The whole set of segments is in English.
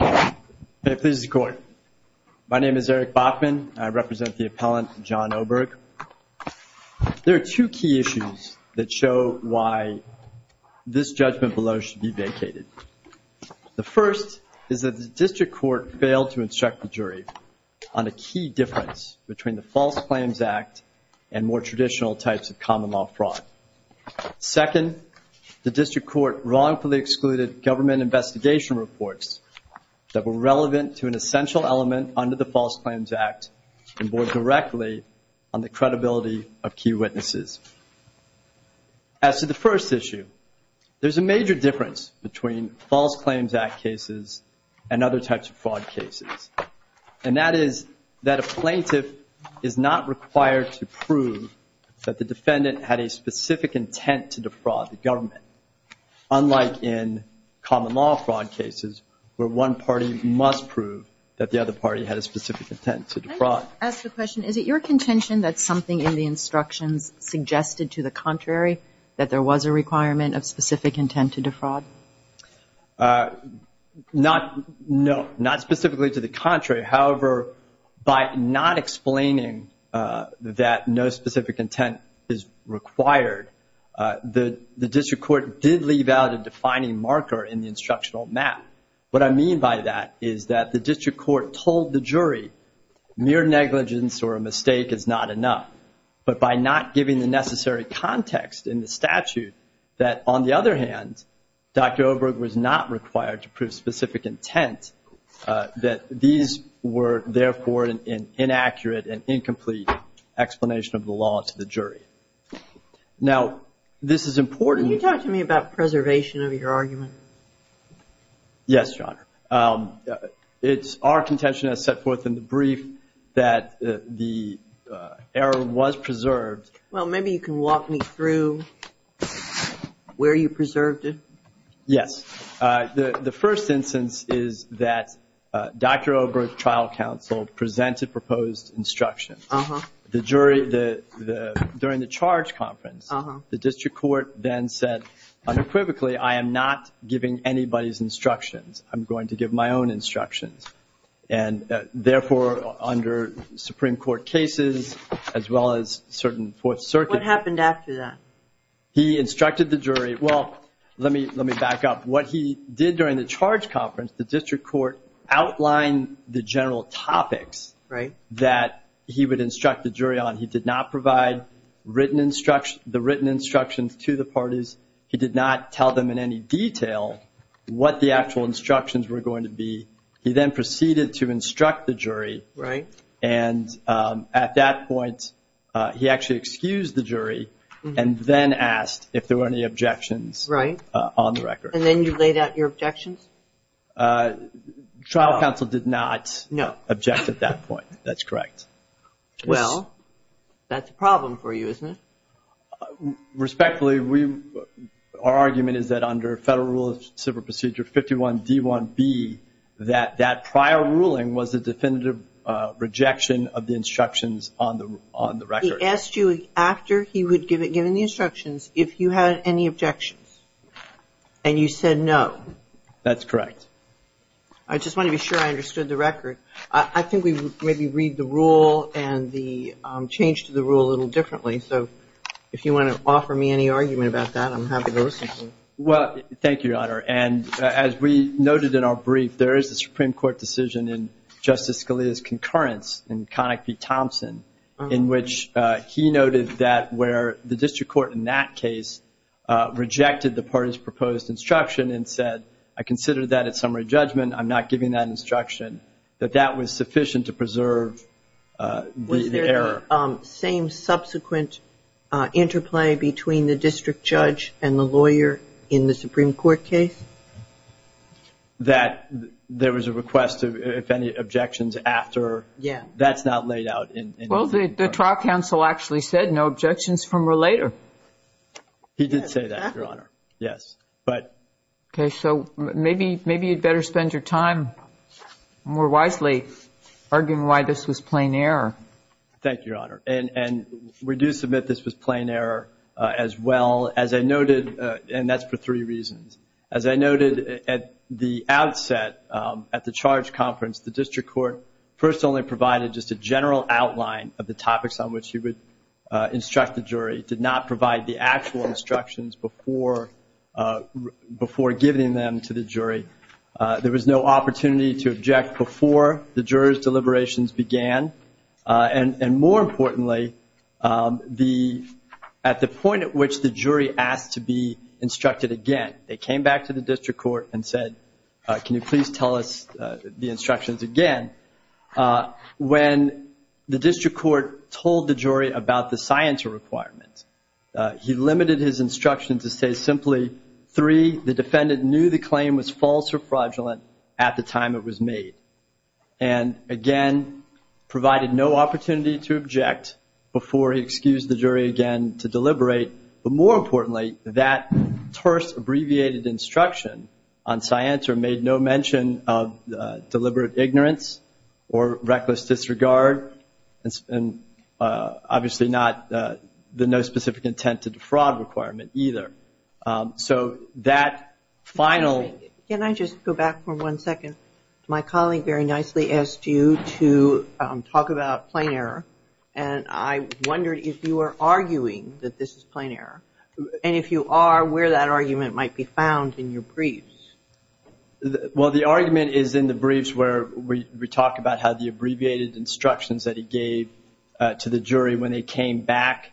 May it please the Court. My name is Eric Bachman. I represent the appellant, Jon Oberg. There are two key issues that show why this judgment below should be vacated. The first is that the District Court failed to instruct the jury on a key difference between the False Claims Act and more traditional types of common law fraud. Second, the District Court wrongfully excluded government investigation reports that were relevant to an essential element under the False Claims Act and bore directly on the credibility of key witnesses. As to the first issue, there's a major difference between False Claims Act cases and other types of fraud cases, and that is that a plaintiff is not required to prove that the defendant had a specific intent to defraud the government, unlike in common law fraud cases where one party must prove that the other party had a specific intent to defraud. Can I just ask a question? Is it your contention that something in the instructions suggested to the contrary that there was a requirement of specific intent to defraud? Not specifically to the contrary. However, by not explaining that no specific intent is required, the District Court did leave out a defining marker in the instructional map. What I mean by that is that the District Court told the jury mere negligence or a mistake is not enough. But by not giving the necessary context in the statute that, on the other hand, Dr. Oberg was not required to prove specific intent, that these were therefore an inaccurate and incomplete explanation of the law to the jury. Now, this is important. Can you talk to me about preservation of your argument? Yes, Your Honor. It's our contention as set forth in the brief that the error was preserved. Well, maybe you can walk me through where you preserved it. Yes. The first instance is that Dr. Oberg's trial counsel presented proposed instructions. During the charge conference, the District Court then said unequivocally, I am not giving anybody's instructions. I'm going to give my own instructions. Therefore, under Supreme Court cases as well as certain Fourth Circuit cases. What happened after that? He instructed the jury. Well, let me back up. What he did during the charge conference, the District Court outlined the general topics that he would instruct the jury on. He did not provide the written instructions to the parties. He did not tell them in any detail what the actual instructions were going to be. He then proceeded to instruct the jury. Right. And at that point, he actually excused the jury and then asked if there were any objections on the record. Right. And then you laid out your objections? Trial counsel did not object at that point. That's correct. Well, that's a problem for you, isn't it? Respectfully, our argument is that under Federal Rule of Civil Procedure 51D1B, that that prior ruling was a definitive rejection of the instructions on the record. He asked you after he had given the instructions if you had any objections. And you said no. That's correct. I just want to be sure I understood the record. I think we maybe read the rule and the change to the rule a little differently. So if you want to offer me any argument about that, I'm happy to listen to you. Well, thank you, Your Honor. And as we noted in our brief, there is a Supreme Court decision in Justice Scalia's concurrence in Connick v. Thompson in which he noted that where the district court in that case rejected the parties' proposed instruction and said, I consider that a summary judgment, I'm not giving that instruction, that that was sufficient to preserve the error. Was there same subsequent interplay between the district judge and the lawyer in the Supreme Court case? That there was a request if any objections after. Yeah. That's not laid out in the Supreme Court. Well, the trial counsel actually said no objections from a later. He did say that, Your Honor. Yes. Okay. So maybe you'd better spend your time more wisely arguing why this was plain error. Thank you, Your Honor. And we do submit this was plain error as well. As I noted, and that's for three reasons. As I noted at the outset at the charge conference, the district court first only provided just a general outline of the topics on which he would instruct the jury, did not provide the actual instructions before giving them to the jury. There was no opportunity to object before the jurors' deliberations began. And more importantly, at the point at which the jury asked to be instructed again, they came back to the district court and said, can you please tell us the instructions again? When the district court told the jury about the science requirements, he limited his instruction to say simply, three, the defendant knew the claim was false or fraudulent at the time it was made. And, again, provided no opportunity to object before he excused the jury again to deliberate. But more importantly, that terse abbreviated instruction on scienter made no mention of deliberate ignorance or reckless disregard and obviously not the no specific intent to defraud requirement either. So that final. Can I just go back for one second? My colleague very nicely asked you to talk about plain error. And I wondered if you were arguing that this is plain error. And if you are, where that argument might be found in your briefs. Well, the argument is in the briefs where we talk about how the abbreviated instructions that he gave to the jury when they came back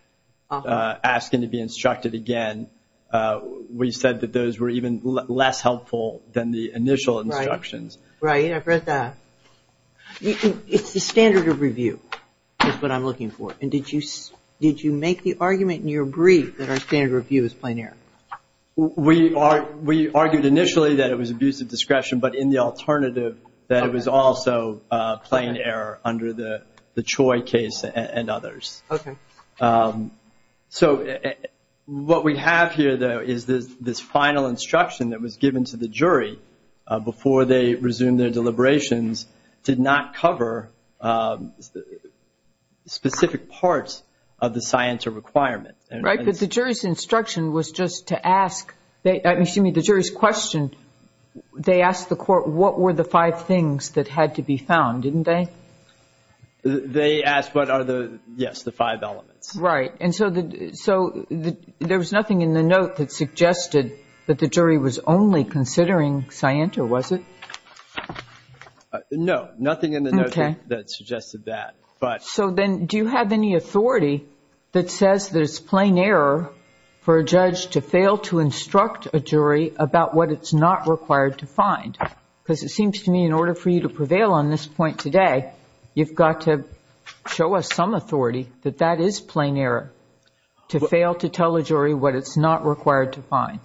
asking to be instructed again, we said that those were even less helpful than the initial instructions. Right. I've read that. It's the standard of review is what I'm looking for. And did you make the argument in your brief that our standard of review is plain error? We argued initially that it was abuse of discretion, but in the alternative that it was also plain error under the Choi case and others. Okay. So what we have here, though, is this final instruction that was given to the jury before they resumed their deliberations did not cover specific parts of the scienter requirement. Right. But the jury's instruction was just to ask, excuse me, the jury's question, they asked the court what were the five things that had to be found, didn't they? They asked what are the, yes, the five elements. Right. And so there was nothing in the note that suggested that the jury was only considering scienter, was it? No. Nothing in the note that suggested that. So then do you have any authority that says there's plain error for a judge to fail to instruct a jury about what it's not required to find? Because it seems to me in order for you to prevail on this point today, you've got to show us some authority that that is plain error, to fail to tell a jury what it's not required to find.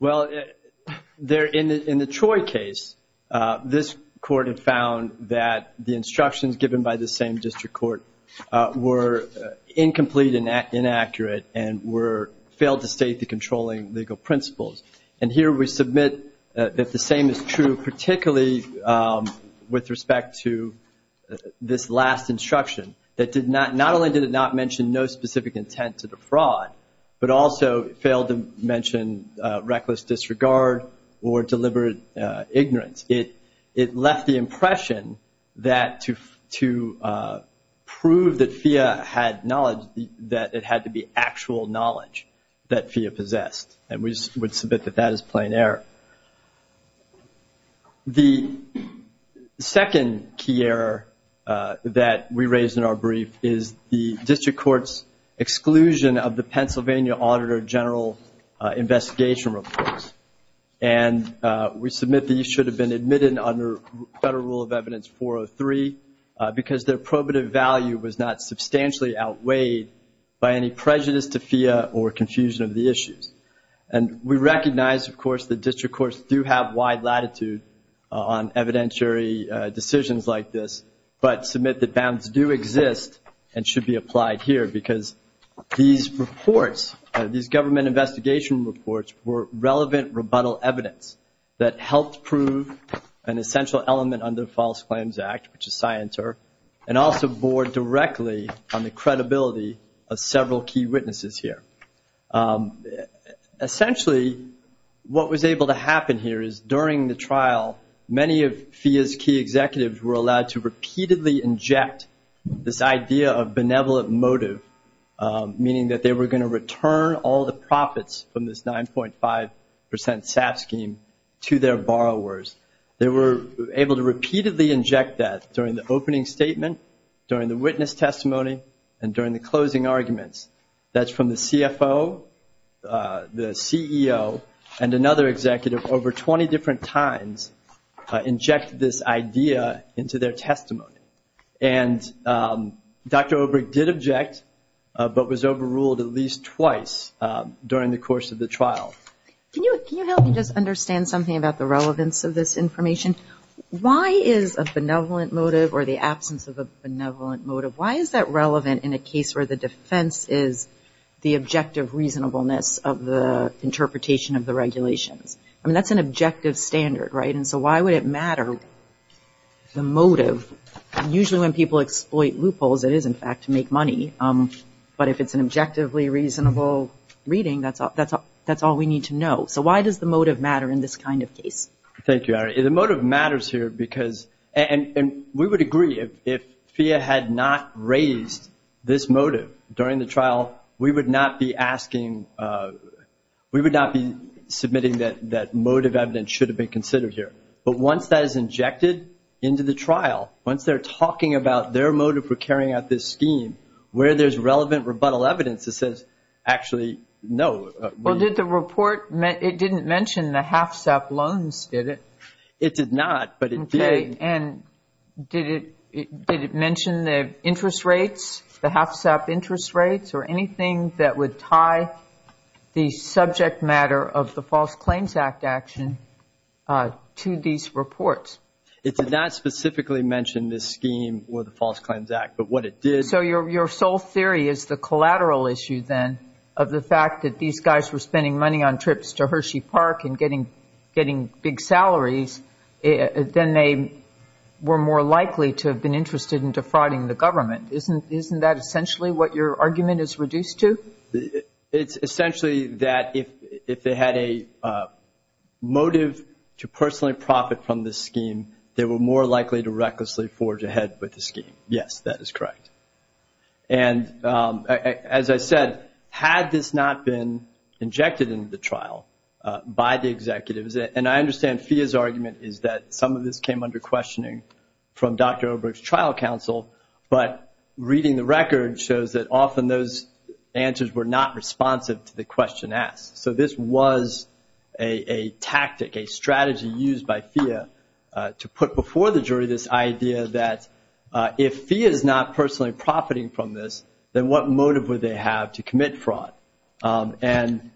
Well, in the Troy case, this court had found that the instructions given by the same district court were incomplete and inaccurate and failed to state the controlling legal principles. And here we submit that the same is true, particularly with respect to this last instruction, that not only did it not mention no specific intent to defraud, but also failed to mention reckless disregard or deliberate ignorance. It left the impression that to prove that FEA had knowledge, that it had to be actual knowledge that FEA possessed. And we would submit that that is plain error. The second key error that we raised in our brief is the district court's exclusion of the Pennsylvania Auditor General investigation reports. And we submit these should have been admitted under Federal Rule of Evidence 403 because their probative value was not substantially outweighed by any prejudice to FEA or confusion of the issues. And we recognize, of course, that district courts do have wide latitude on evidentiary decisions like this, but submit that bounds do exist and should be applied here because these reports, these government investigation reports were relevant rebuttal evidence that helped prove an essential element under the False Claims Act, which is SciENTER, and also bore directly on the credibility of several key witnesses here. Essentially, what was able to happen here is during the trial, many of FEA's key executives were allowed to repeatedly inject this idea of benevolent motive, meaning that they were going to return all the profits from this 9.5 percent SAF scheme to their borrowers. They were able to repeatedly inject that during the opening statement, during the witness testimony, and during the closing arguments. That's from the CFO, the CEO, and another executive over 20 different times injected this idea into their testimony. And Dr. Obrecht did object but was overruled at least twice during the course of the trial. Can you help me just understand something about the relevance of this information? Why is a benevolent motive or the absence of a benevolent motive, why is that relevant in a case where the defense is the objective reasonableness of the interpretation of the regulations? I mean, that's an objective standard, right? And so why would it matter? The motive, usually when people exploit loopholes, it is, in fact, to make money. But if it's an objectively reasonable reading, that's all we need to know. So why does the motive matter in this kind of case? Thank you, Ari. The motive matters here because, and we would agree, if FIA had not raised this motive during the trial, we would not be asking, we would not be submitting that motive evidence should have been considered here. But once that is injected into the trial, once they're talking about their motive for carrying out this scheme, where there's relevant rebuttal evidence that says, actually, no. Well, did the report, it didn't mention the HFSAP loans, did it? It did not, but it did. Okay. And did it mention the interest rates, the HFSAP interest rates, or anything that would tie the subject matter of the False Claims Act action to these reports? So your sole theory is the collateral issue, then, of the fact that these guys were spending money on trips to Hershey Park and getting big salaries, then they were more likely to have been interested in defrauding the government. Isn't that essentially what your argument is reduced to? It's essentially that if they had a motive to personally profit from this scheme, they were more likely to recklessly forge ahead with the scheme. Yes, that is correct. And as I said, had this not been injected into the trial by the executives, and I understand FIA's argument is that some of this came under questioning from Dr. Oberg's trial counsel, but reading the record shows that often those answers were not responsive to the question asked. So this was a tactic, a strategy used by FIA to put before the jury this idea that if FIA is not personally profiting from this, then what motive would they have to commit fraud? And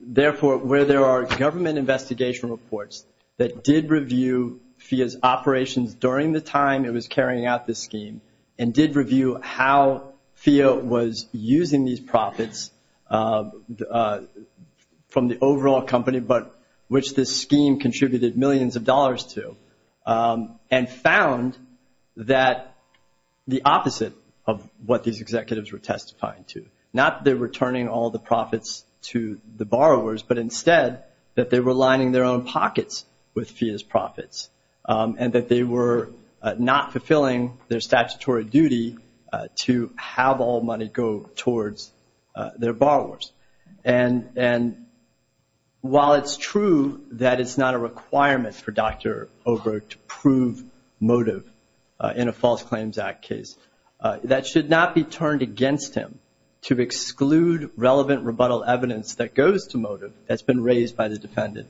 therefore, where there are government investigation reports that did review FIA's operations during the time it was carrying out this scheme and did review how FIA was using these profits from the overall company, which this scheme contributed millions of dollars to, and found that the opposite of what these executives were testifying to, not that they were returning all the profits to the borrowers, but instead that they were lining their own pockets with FIA's profits and that they were not fulfilling their statutory duty to have all money go towards their borrowers. And while it's true that it's not a requirement for Dr. Oberg to prove motive in a False Claims Act case, that should not be turned against him to exclude relevant rebuttal evidence that goes to motive that's been raised by the defendant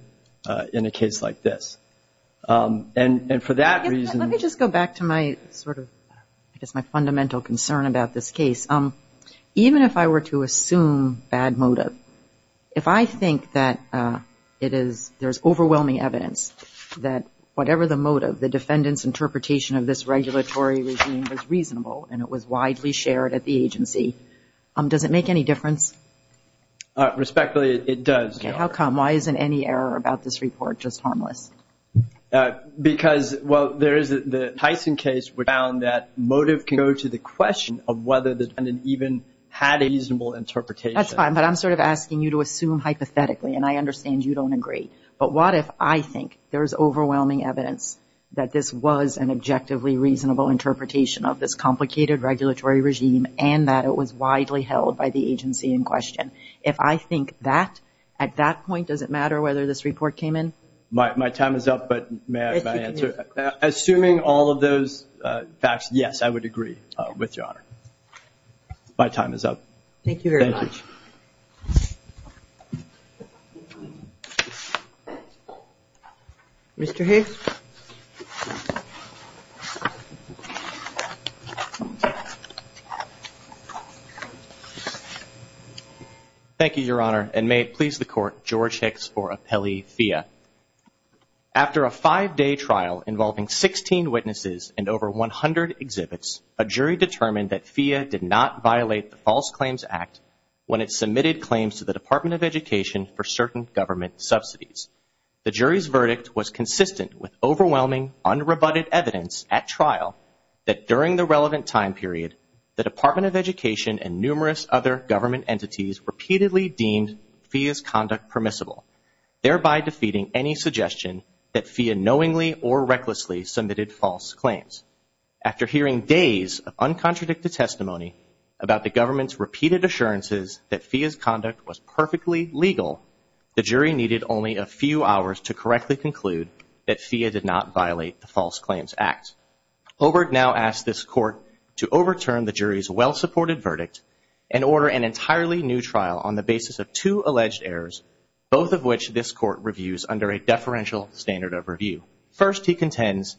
in a case like this. And for that reason- Let me just go back to my sort of, I guess my fundamental concern about this case. Even if I were to assume bad motive, if I think that it is, there's overwhelming evidence that whatever the motive, the defendant's interpretation of this regulatory regime was reasonable and it was widely shared at the agency, does it make any difference? Respectfully, it does. Okay, how come? Why isn't any error about this report just harmless? Because, well, there is the Tyson case, which found that motive can go to the question of whether the defendant even had a reasonable interpretation. That's fine, but I'm sort of asking you to assume hypothetically, and I understand you don't agree. But what if I think there's overwhelming evidence that this was an objectively reasonable interpretation of this complicated regulatory regime and that it was widely held by the agency in question? If I think that, at that point, does it matter whether this report came in? My time is up, but may I answer? Assuming all of those facts, yes, I would agree with Your Honor. Thank you very much. Mr. Hayes? Thank you, Your Honor, and may it please the Court, George Hicks for appellee FIA. After a five-day trial involving 16 witnesses and over 100 exhibits, a jury determined that FIA did not violate the False Claims Act when it submitted claims to the Department of Education for certain government subsidies. The jury's verdict was consistent with overwhelming, unrebutted evidence at trial that during the relevant time period, the Department of Education and numerous other government entities repeatedly deemed FIA's conduct permissible, thereby defeating any suggestion that FIA knowingly or recklessly submitted false claims. After hearing days of uncontradicted testimony about the government's repeated assurances that FIA's conduct was perfectly legal, the jury needed only a few hours to correctly conclude that FIA did not violate the False Claims Act. Hobart now asked this Court to overturn the jury's well-supported verdict and order an entirely new trial on the basis of two alleged errors, both of which this Court reviews under a deferential standard of review. First, he contends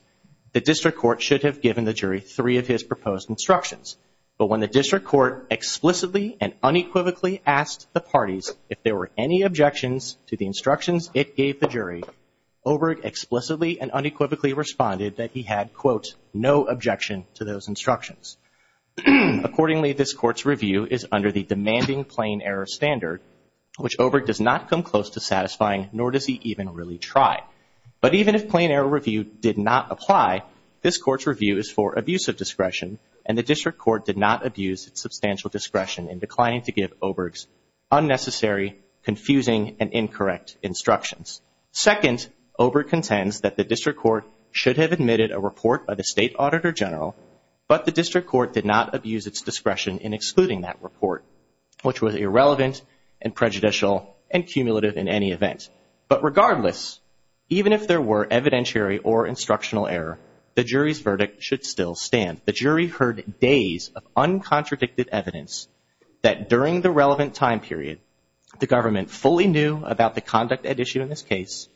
the District Court should have given the jury three of his proposed instructions. But when the District Court explicitly and unequivocally asked the parties if there were any objections to the instructions it gave the jury, Oberg explicitly and unequivocally responded that he had, quote, no objection to those instructions. Accordingly, this Court's review is under the demanding plain error standard, which Oberg does not come close to satisfying, nor does he even really try. But even if plain error review did not apply, this Court's review is for abusive discretion, and the District Court did not abuse its substantial discretion in declining to give Oberg's unnecessary, confusing, and incorrect instructions. Second, Oberg contends that the District Court should have admitted a report by the State Auditor General, but the District Court did not abuse its discretion in excluding that report, which was irrelevant and prejudicial and cumulative in any event. But regardless, even if there were evidentiary or instructional error, the jury's verdict should still stand. The jury heard days of uncontradicted evidence that during the relevant time period, the government fully knew about the conduct at issue in this case,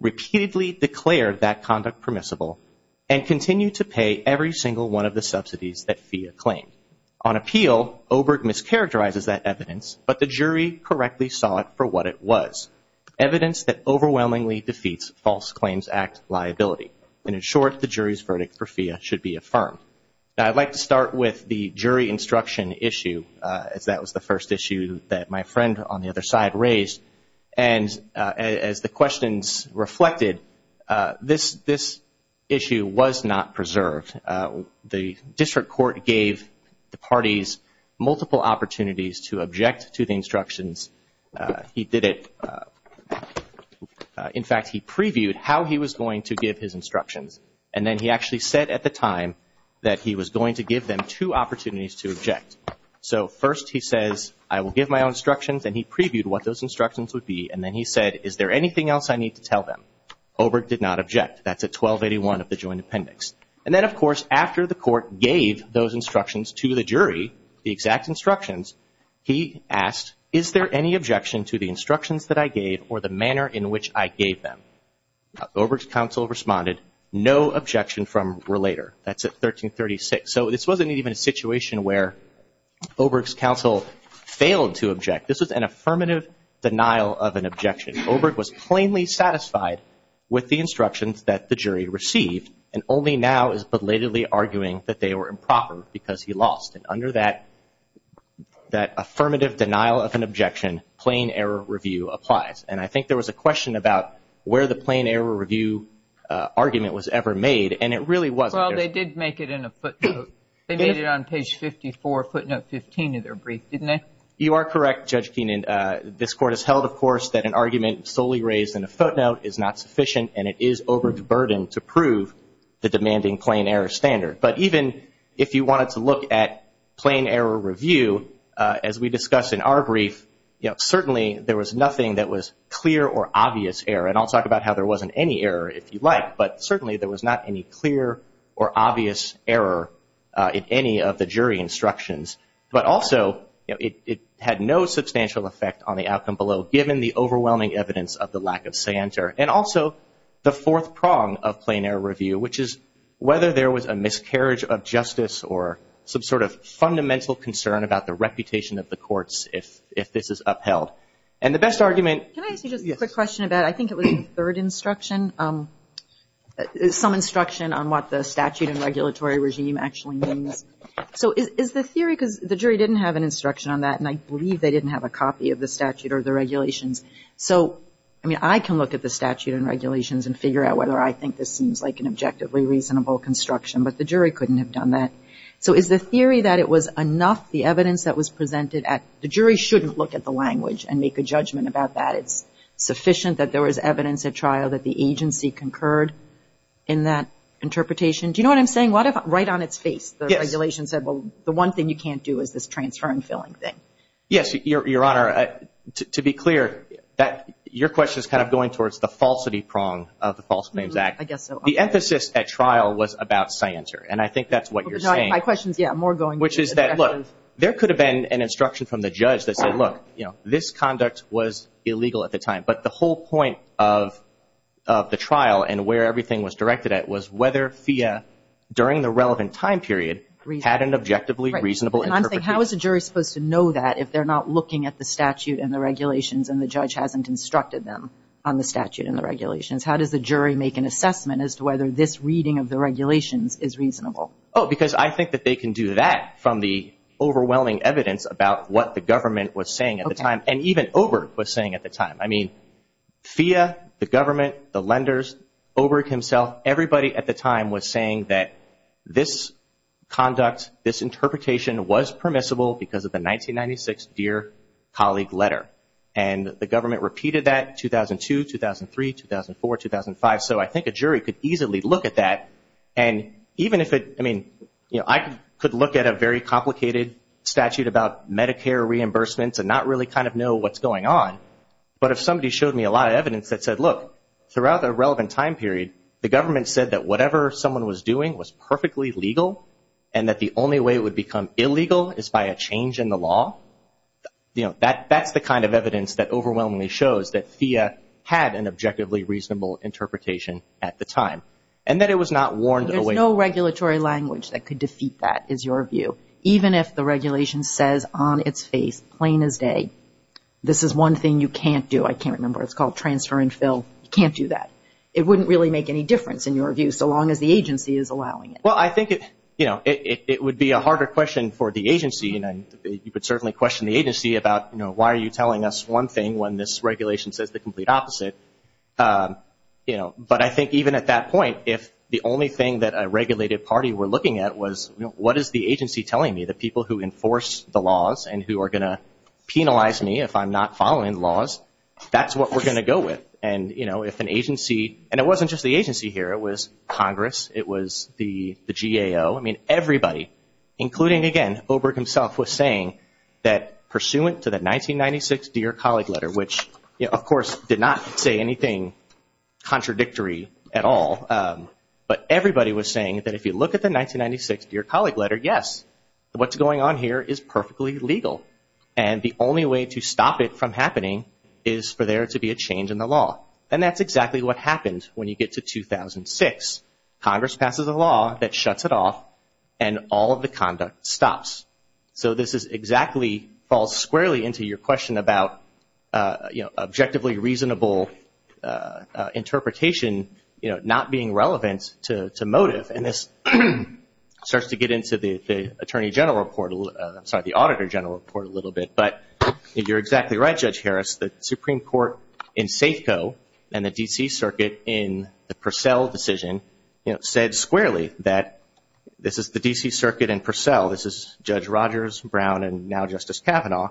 repeatedly declared that conduct permissible, and continued to pay every single one of the subsidies that FEA claimed. On appeal, Oberg mischaracterizes that evidence, but the jury correctly saw it for what it was. Evidence that overwhelmingly defeats False Claims Act liability. And in short, the jury's verdict for FEA should be affirmed. Now I'd like to start with the jury instruction issue, as that was the first issue that my friend on the other side raised. And as the questions reflected, this issue was not preserved. The District Court gave the parties multiple opportunities to object to the instructions. He did it. In fact, he previewed how he was going to give his instructions. And then he actually said at the time that he was going to give them two opportunities to object. So first he says, I will give my own instructions. And he previewed what those instructions would be. And then he said, is there anything else I need to tell them? Oberg did not object. That's at 1281 of the Joint Appendix. And then, of course, after the Court gave those instructions to the jury, the exact instructions, he asked, is there any objection to the instructions that I gave or the manner in which I gave them? Oberg's counsel responded, no objection from relator. That's at 1336. So this wasn't even a situation where Oberg's counsel failed to object. This was an affirmative denial of an objection. Oberg was plainly satisfied with the instructions that the jury received and only now is belatedly arguing that they were improper because he lost. And under that affirmative denial of an objection, plain error review applies. And I think there was a question about where the plain error review argument was ever made. And it really wasn't. Well, they did make it in a footnote. They made it on page 54, footnote 15 of their brief, didn't they? You are correct, Judge Keenan. This Court has held, of course, that an argument solely raised in a footnote is not sufficient and it is Oberg's burden to prove the demanding plain error standard. But even if you wanted to look at plain error review, as we discussed in our brief, certainly there was nothing that was clear or obvious error. And I'll talk about how there wasn't any error if you like, but certainly there was not any clear or obvious error in any of the jury instructions. But also it had no substantial effect on the outcome below, given the overwhelming evidence of the lack of center. And also the fourth prong of plain error review, which is whether there was a miscarriage of justice or some sort of fundamental concern about the reputation of the courts if this is upheld. And the best argument- Can I ask you just a quick question about, I think it was the third instruction, some instruction on what the statute and regulatory regime actually means. So is the theory, because the jury didn't have an instruction on that, and I believe they didn't have a copy of the statute or the regulations. So, I mean, I can look at the statute and regulations and figure out whether I think this seems like an objectively reasonable construction, but the jury couldn't have done that. So is the theory that it was enough, the evidence that was presented, the jury shouldn't look at the language and make a judgment about that. It's sufficient that there was evidence at trial that the agency concurred in that interpretation. Do you know what I'm saying? Right on its face, the regulation said, well, the one thing you can't do is this transfer and filling thing. Yes, Your Honor, to be clear, your question is kind of going towards the falsity prong of the False Claims Act. I guess so. The emphasis at trial was about scienter, and I think that's what you're saying. My question is, yeah, more going- Which is that, look, there could have been an instruction from the judge that said, look, you know, this conduct was illegal at the time, but the whole point of the trial and where everything was directed at was whether FIA, during the relevant time period, had an objectively reasonable interpretation. How is a jury supposed to know that if they're not looking at the statute and the regulations and the judge hasn't instructed them on the statute and the regulations? How does the jury make an assessment as to whether this reading of the regulations is reasonable? Oh, because I think that they can do that from the overwhelming evidence about what the government was saying at the time, and even Oberg was saying at the time. I mean, FIA, the government, the lenders, Oberg himself, everybody at the time was saying that this conduct, this interpretation, was permissible because of the 1996 Dear Colleague letter, and the government repeated that in 2002, 2003, 2004, 2005. So I think a jury could easily look at that, and even if it, I mean, I could look at a very complicated statute about Medicare reimbursements and not really kind of know what's going on, but if somebody showed me a lot of evidence that said, look, throughout a relevant time period, the government said that whatever someone was doing was perfectly legal and that the only way it would become illegal is by a change in the law, you know, that's the kind of evidence that overwhelmingly shows that FIA had an objectively reasonable interpretation at the time, and that it was not warned away. There's no regulatory language that could defeat that, is your view, even if the regulation says on its face, plain as day, this is one thing you can't do. I can't remember. It's called transfer and fill. You can't do that. It wouldn't really make any difference, in your view, so long as the agency is allowing it. Well, I think it, you know, it would be a harder question for the agency, and you could certainly question the agency about, you know, why are you telling us one thing when this regulation says the complete opposite? You know, but I think even at that point, if the only thing that a regulated party were looking at was, you know, what is the agency telling me, the people who enforce the laws and who are going to penalize me if I'm not following the laws, that's what we're going to go with. And, you know, if an agency, and it wasn't just the agency here. It was Congress. It was the GAO. I mean, everybody, including, again, Oberg himself was saying that pursuant to the 1996 Dear Colleague Letter, which, of course, did not say anything contradictory at all, but everybody was saying that if you look at the 1996 Dear Colleague Letter, yes, what's going on here is perfectly legal, and the only way to stop it from happening is for there to be a change in the law, and that's exactly what happened when you get to 2006. Congress passes a law that shuts it off, and all of the conduct stops. So this is exactly, falls squarely into your question about, you know, objectively reasonable interpretation, you know, not being relevant to motive, and this starts to get into the Attorney General Report, I'm sorry, the Auditor General Report a little bit, but you're exactly right, Judge Harris. The Supreme Court in Safeco and the D.C. Circuit in the Purcell decision, you know, said squarely that this is the D.C. Circuit and Purcell. This is Judge Rogers, Brown, and now Justice Kavanaugh.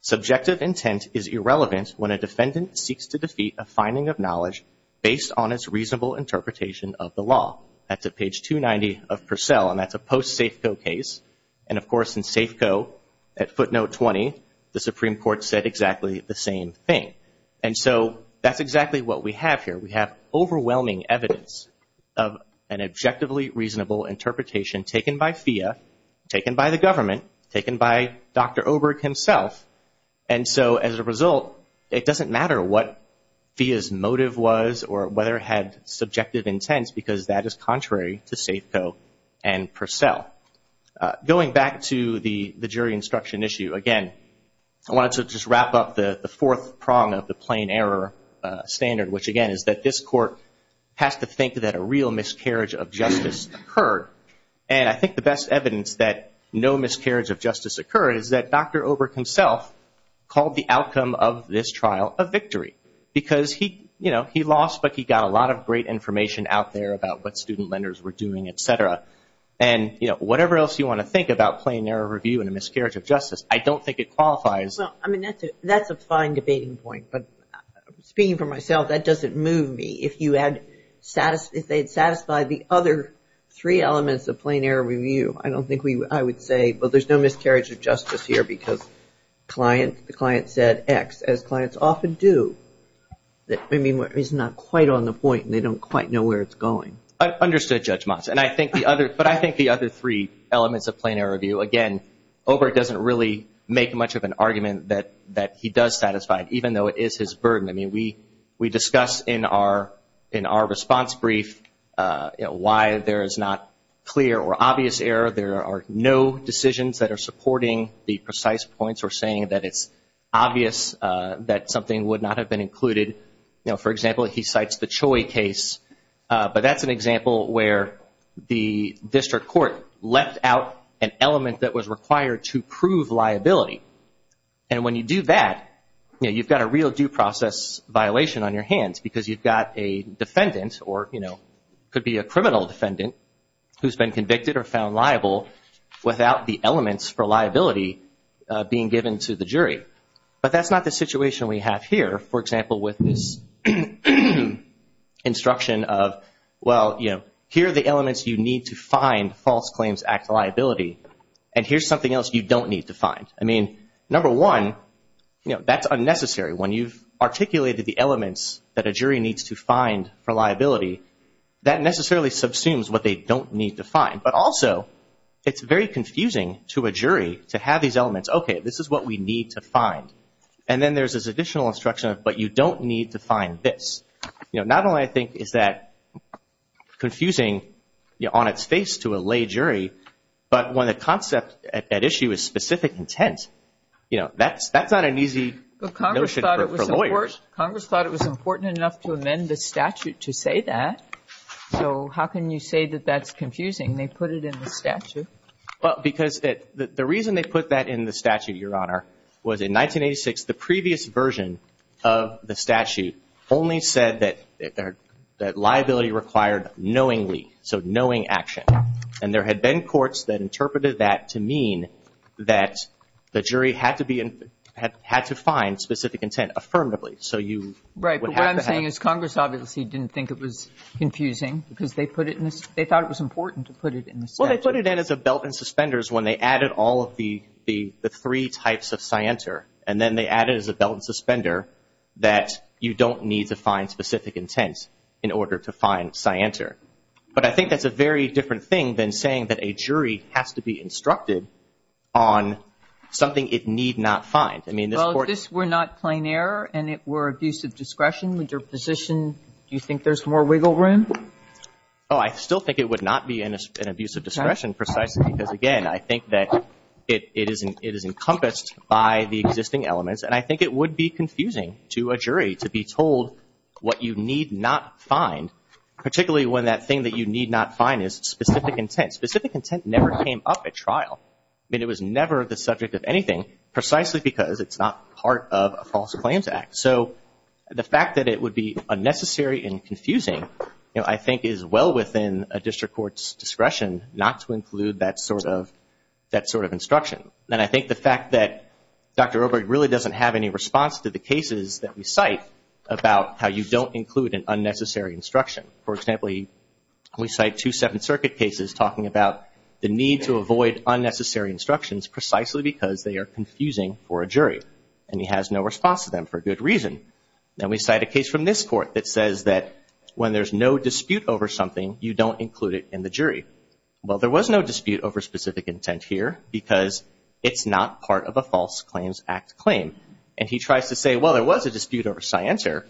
Subjective intent is irrelevant when a defendant seeks to defeat a finding of knowledge based on its reasonable interpretation of the law. That's at page 290 of Purcell, and that's a post-Safeco case. And, of course, in Safeco, at footnote 20, the Supreme Court said exactly the same thing. And so that's exactly what we have here. We have overwhelming evidence of an objectively reasonable interpretation taken by FIA, taken by the government, taken by Dr. Oberg himself. And so as a result, it doesn't matter what FIA's motive was or whether it had subjective intent because that is contrary to Safeco and Purcell. Going back to the jury instruction issue, again, I wanted to just wrap up the fourth prong of the plain error standard, which, again, is that this Court has to think that a real miscarriage of justice occurred. And I think the best evidence that no miscarriage of justice occurred is that Dr. Oberg himself called the outcome of this trial a victory because, you know, he lost, but he got a lot of great information out there about what student lenders were doing, et cetera. And, you know, whatever else you want to think about plain error review and a miscarriage of justice, I don't think it qualifies. Well, I mean, that's a fine debating point. But speaking for myself, that doesn't move me. If they had satisfied the other three elements of plain error review, I don't think I would say, well, there's no miscarriage of justice here because the client said X, as clients often do. I mean, he's not quite on the point and they don't quite know where it's going. Understood, Judge Motz. But I think the other three elements of plain error review, again, Oberg doesn't really make much of an argument that he does satisfy it, even though it is his burden. I mean, we discuss in our response brief why there is not clear or obvious error. There are no decisions that are supporting the precise points or saying that it's obvious that something would not have been included. You know, for example, he cites the Choi case. But that's an example where the district court left out an element that was required to prove liability. And when you do that, you know, you've got a real due process violation on your hands because you've got a defendant or, you know, could be a criminal defendant who's been convicted or found liable without the elements for liability being given to the jury. But that's not the situation we have here. For example, with this instruction of, well, you know, here are the elements you need to find false claims act liability and here's something else you don't need to find. I mean, number one, you know, that's unnecessary. When you've articulated the elements that a jury needs to find for liability, that necessarily subsumes what they don't need to find. But also, it's very confusing to a jury to have these elements. Okay, this is what we need to find. And then there's this additional instruction of, but you don't need to find this. You know, not only I think is that confusing on its face to a lay jury, but when the concept at issue is specific intent, you know, that's not an easy notion for lawyers. Congress thought it was important enough to amend the statute to say that. So how can you say that that's confusing? They put it in the statute. Well, because the reason they put that in the statute, Your Honor, was in 1986, the previous version of the statute only said that liability required knowingly, so knowing action. And there had been courts that interpreted that to mean that the jury had to find specific intent affirmatively. So you would have to have. Right, but what I'm saying is Congress obviously didn't think it was confusing because they thought it was important to put it in the statute. Well, they put it in as a belt and suspenders when they added all of the three types of scienter. And then they added as a belt and suspender that you don't need to find specific intent in order to find scienter. But I think that's a very different thing than saying that a jury has to be instructed on something it need not find. Well, if this were not plain error and it were abusive discretion, would your position, do you think there's more wiggle room? Oh, I still think it would not be an abusive discretion precisely because, again, I think that it is encompassed by the existing elements. And I think it would be confusing to a jury to be told what you need not find, particularly when that thing that you need not find is specific intent. Specific intent never came up at trial. I mean, it was never the subject of anything precisely because it's not part of a false claims act. So the fact that it would be unnecessary and confusing, you know, I think is well within a district court's discretion not to include that sort of instruction. And I think the fact that Dr. Oberg really doesn't have any response to the cases that we cite about how you don't include an unnecessary instruction. For example, we cite two Seventh Circuit cases talking about the need to avoid unnecessary instructions precisely because they are confusing for a jury. And he has no response to them for good reason. Then we cite a case from this court that says that when there's no dispute over something, you don't include it in the jury. Well, there was no dispute over specific intent here because it's not part of a false claims act claim. And he tries to say, well, there was a dispute over scienter.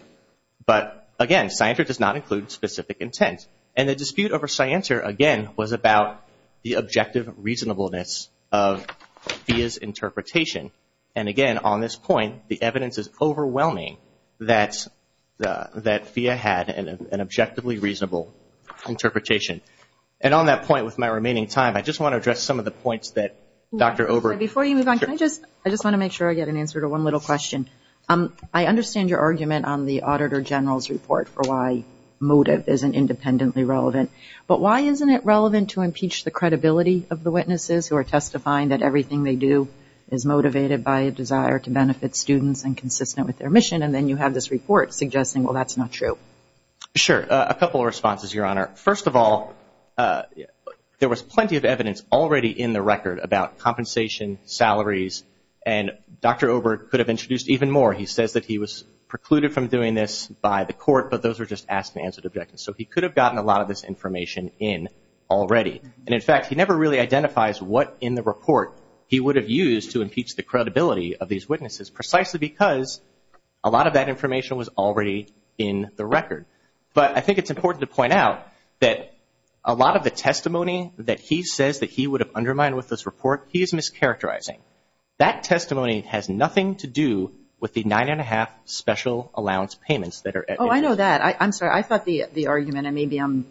But, again, scienter does not include specific intent. And the dispute over scienter, again, was about the objective reasonableness of FIA's interpretation. And, again, on this point, the evidence is overwhelming that FIA had an objectively reasonable interpretation. And on that point, with my remaining time, I just want to address some of the points that Dr. Oberg. Before you move on, I just want to make sure I get an answer to one little question. I understand your argument on the Auditor General's report for why motive isn't independently relevant. But why isn't it relevant to impeach the credibility of the witnesses who are testifying that everything they do is motivated by a desire to benefit students and consistent with their mission? And then you have this report suggesting, well, that's not true. Sure. A couple of responses, Your Honor. First of all, there was plenty of evidence already in the record about compensation, salaries. And Dr. Oberg could have introduced even more. He says that he was precluded from doing this by the court, but those are just asked and answered objections. So he could have gotten a lot of this information in already. And, in fact, he never really identifies what in the report he would have used to impeach the credibility of these witnesses, precisely because a lot of that information was already in the record. But I think it's important to point out that a lot of the testimony that he says that he would have undermined with this report, he is mischaracterizing. That testimony has nothing to do with the nine-and-a-half special allowance payments that are at issue. Oh, I know that. I'm sorry. I thought the argument, and maybe I'm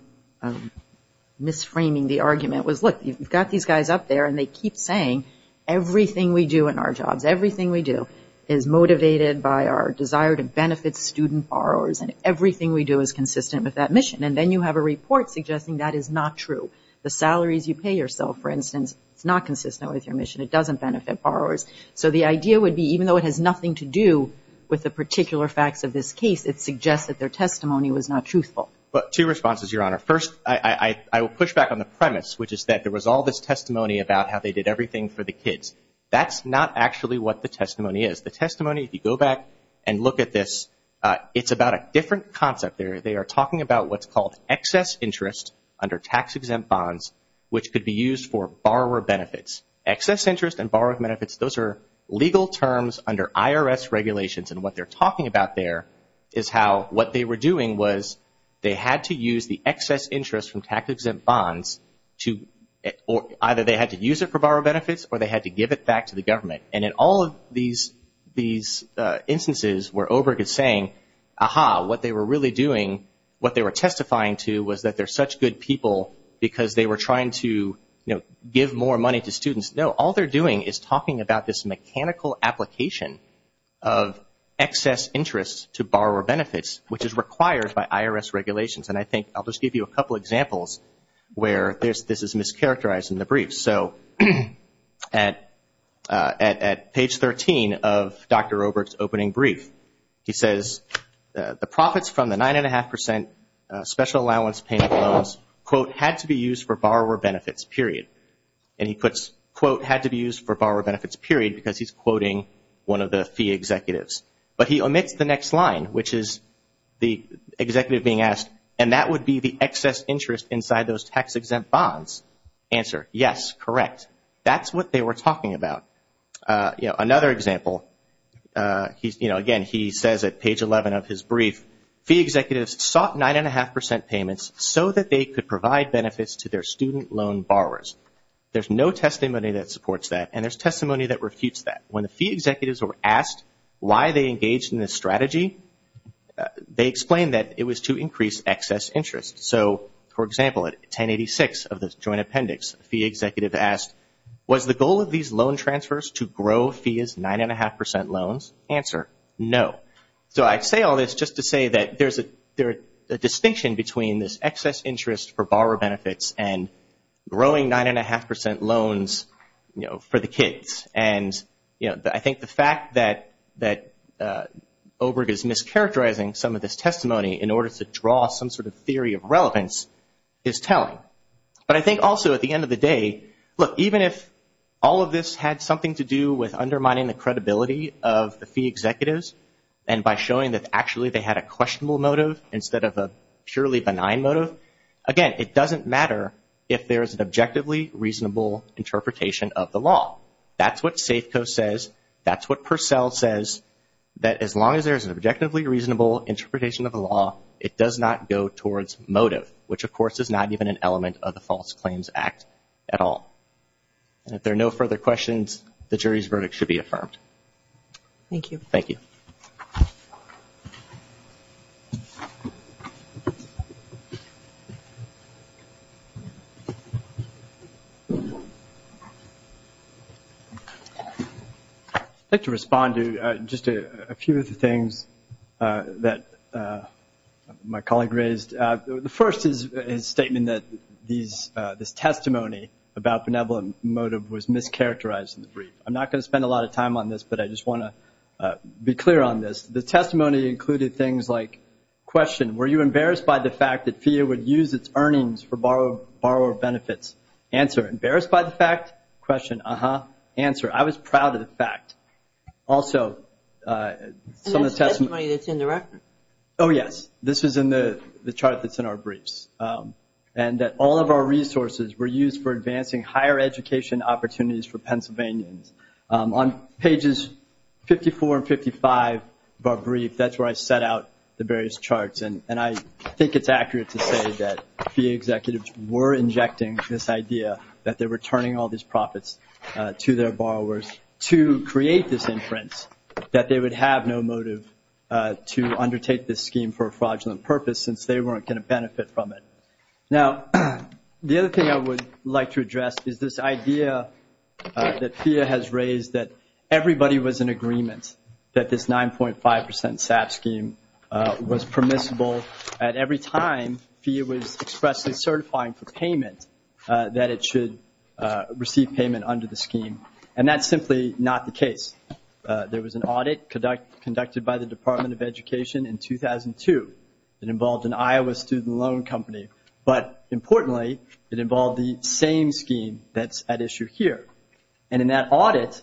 misframing the argument, was, look, you've got these guys up there and they keep saying everything we do in our jobs, everything we do is motivated by our desire to benefit student borrowers, and everything we do is consistent with that mission. And then you have a report suggesting that is not true. The salaries you pay yourself, for instance, it's not consistent with your mission. It doesn't benefit borrowers. So the idea would be, even though it has nothing to do with the particular facts of this case, it suggests that their testimony was not truthful. Two responses, Your Honor. First, I will push back on the premise, which is that there was all this testimony about how they did everything for the kids. That's not actually what the testimony is. The testimony, if you go back and look at this, it's about a different concept there. They are talking about what's called excess interest under tax-exempt bonds, which could be used for borrower benefits. Excess interest and borrower benefits, those are legal terms under IRS regulations, and what they're talking about there is how what they were doing was they had to use the excess interest from tax-exempt bonds to either they had to use it for borrower benefits or they had to give it back to the government. And in all of these instances where Oberg is saying, Aha, what they were really doing, what they were testifying to was that they're such good people because they were trying to, you know, give more money to students. No, all they're doing is talking about this mechanical application of excess interest to borrower benefits, which is required by IRS regulations. And I think I'll just give you a couple examples where this is mischaracterized in the brief. So at page 13 of Dr. Oberg's opening brief, he says, the profits from the 9.5% special allowance payment loans, quote, had to be used for borrower benefits, period. And he puts, quote, had to be used for borrower benefits, period, because he's quoting one of the fee executives. But he omits the next line, which is the executive being asked, and that would be the excess interest inside those tax-exempt bonds. Answer, yes, correct. That's what they were talking about. You know, another example, you know, again, he says at page 11 of his brief, fee executives sought 9.5% payments so that they could provide benefits to their student loan borrowers. There's no testimony that supports that, and there's testimony that refutes that. When the fee executives were asked why they engaged in this strategy, they explained that it was to increase excess interest. So, for example, at 1086 of the joint appendix, a fee executive asked, was the goal of these loan transfers to grow fees 9.5% loans? Answer, no. So I say all this just to say that there's a distinction between this excess interest for borrower benefits and growing 9.5% loans, you know, for the kids. And, you know, I think the fact that Oberg is mischaracterizing some of this testimony in order to draw some sort of theory of relevance is telling. But I think also at the end of the day, look, even if all of this had something to do with undermining the credibility of the fee executives and by showing that actually they had a questionable motive instead of a purely benign motive, again, it doesn't matter if there's an objectively reasonable interpretation of the law. That's what Safeco says. That's what Purcell says, that as long as there's an objectively reasonable interpretation of the law, it does not go towards motive, which, of course, is not even an element of the False Claims Act at all. And if there are no further questions, the jury's verdict should be affirmed. Thank you. Thank you. I'd like to respond to just a few of the things that my colleague raised. The first is his statement that this testimony about benevolent motive was mischaracterized in the brief. I'm not going to spend a lot of time on this, but I just want to be clear on this. The testimony included things like, question, were you embarrassed by the fact that fee would use its earnings for borrower benefits? Answer, embarrassed by the fact? Question, uh-huh. Answer, I was proud of the fact. Also, some of the testimony that's in the record. Oh, yes. This is in the chart that's in our briefs, and that all of our resources were used for advancing higher education opportunities for Pennsylvanians. On pages 54 and 55 of our brief, that's where I set out the various charts, and I think it's accurate to say that fee executives were injecting this idea that they were turning all these profits to their borrowers to create this inference that they would have no motive to undertake this scheme for a fraudulent purpose, since they weren't going to benefit from it. Now, the other thing I would like to address is this idea that fee has raised that everybody was in agreement that this 9.5% SAP scheme was permissible at every time fee was expressly certifying for payment, that it should receive payment under the scheme, and that's simply not the case. There was an audit conducted by the Department of Education in 2002. It involved an Iowa student loan company, but importantly, it involved the same scheme that's at issue here, and in that audit,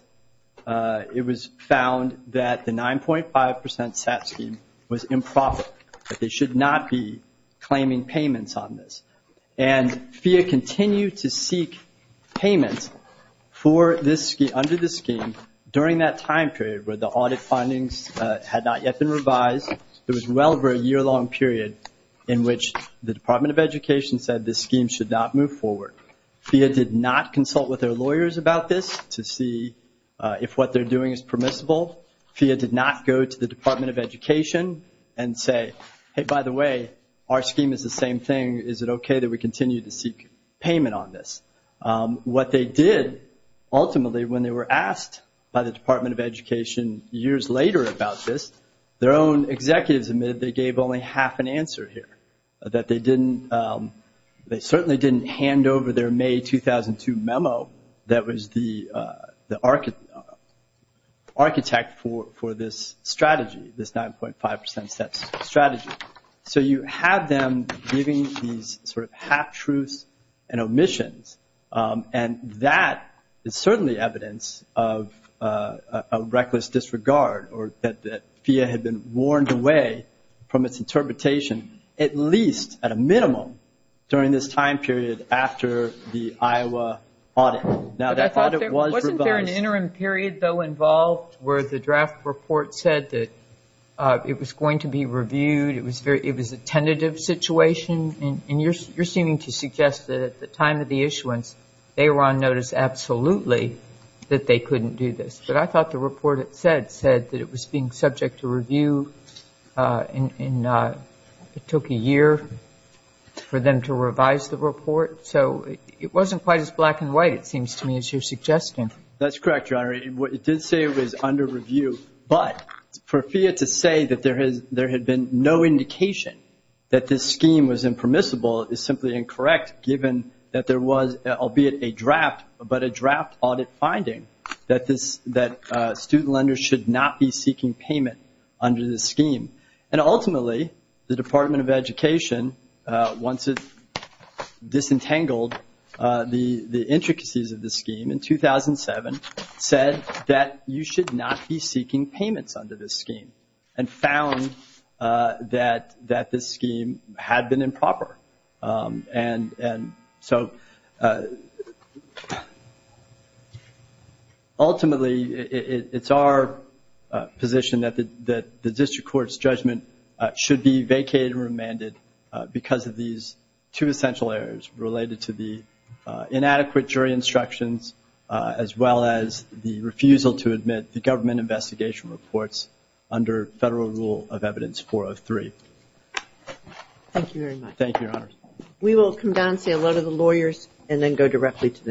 it was found that the 9.5% SAP scheme was improper, that they should not be claiming payments on this, and fee continued to seek payments under the scheme during that time period where the audit findings had not yet been revised. It was well over a year-long period in which the Department of Education said this scheme should not move forward. FEA did not consult with their lawyers about this to see if what they're doing is permissible. FEA did not go to the Department of Education and say, hey, by the way, our scheme is the same thing. Is it okay that we continue to seek payment on this? What they did, ultimately, when they were asked by the Department of Education years later about this, their own executives admitted they gave only half an answer here, that they certainly didn't hand over their May 2002 memo that was the architect for this strategy, this 9.5% strategy. So you have them giving these sort of half-truths and omissions, and that is certainly evidence of a reckless disregard or that FEA had been warned away from its interpretation, at least at a minimum, during this time period after the Iowa audit. Now, that audit was revised. Wasn't there an interim period, though, involved where the draft report said that it was going to be reviewed? It was a tentative situation, and you're seeming to suggest that at the time of the issuance, they were on notice absolutely that they couldn't do this. But I thought the report said that it was being subject to review, and it took a year for them to revise the report. So it wasn't quite as black and white, it seems to me, as you're suggesting. That's correct, Your Honor. It did say it was under review, but for FEA to say that there had been no indication that this scheme was impermissible is simply incorrect, given that there was, albeit a draft, but a draft audit finding that student lenders should not be seeking payment under this scheme. And ultimately, the Department of Education, once it disentangled the intricacies of the scheme in 2007, said that you should not be seeking payments under this scheme and found that this scheme had been improper. And so ultimately, it's our position that the district court's judgment should be vacated and remanded because of these two essential areas related to the inadequate jury instructions, as well as the refusal to admit the government investigation reports under Federal Rule of Evidence 403. Thank you very much. Thank you, Your Honor. We will come down and say hello to the lawyers and then go directly to the next case.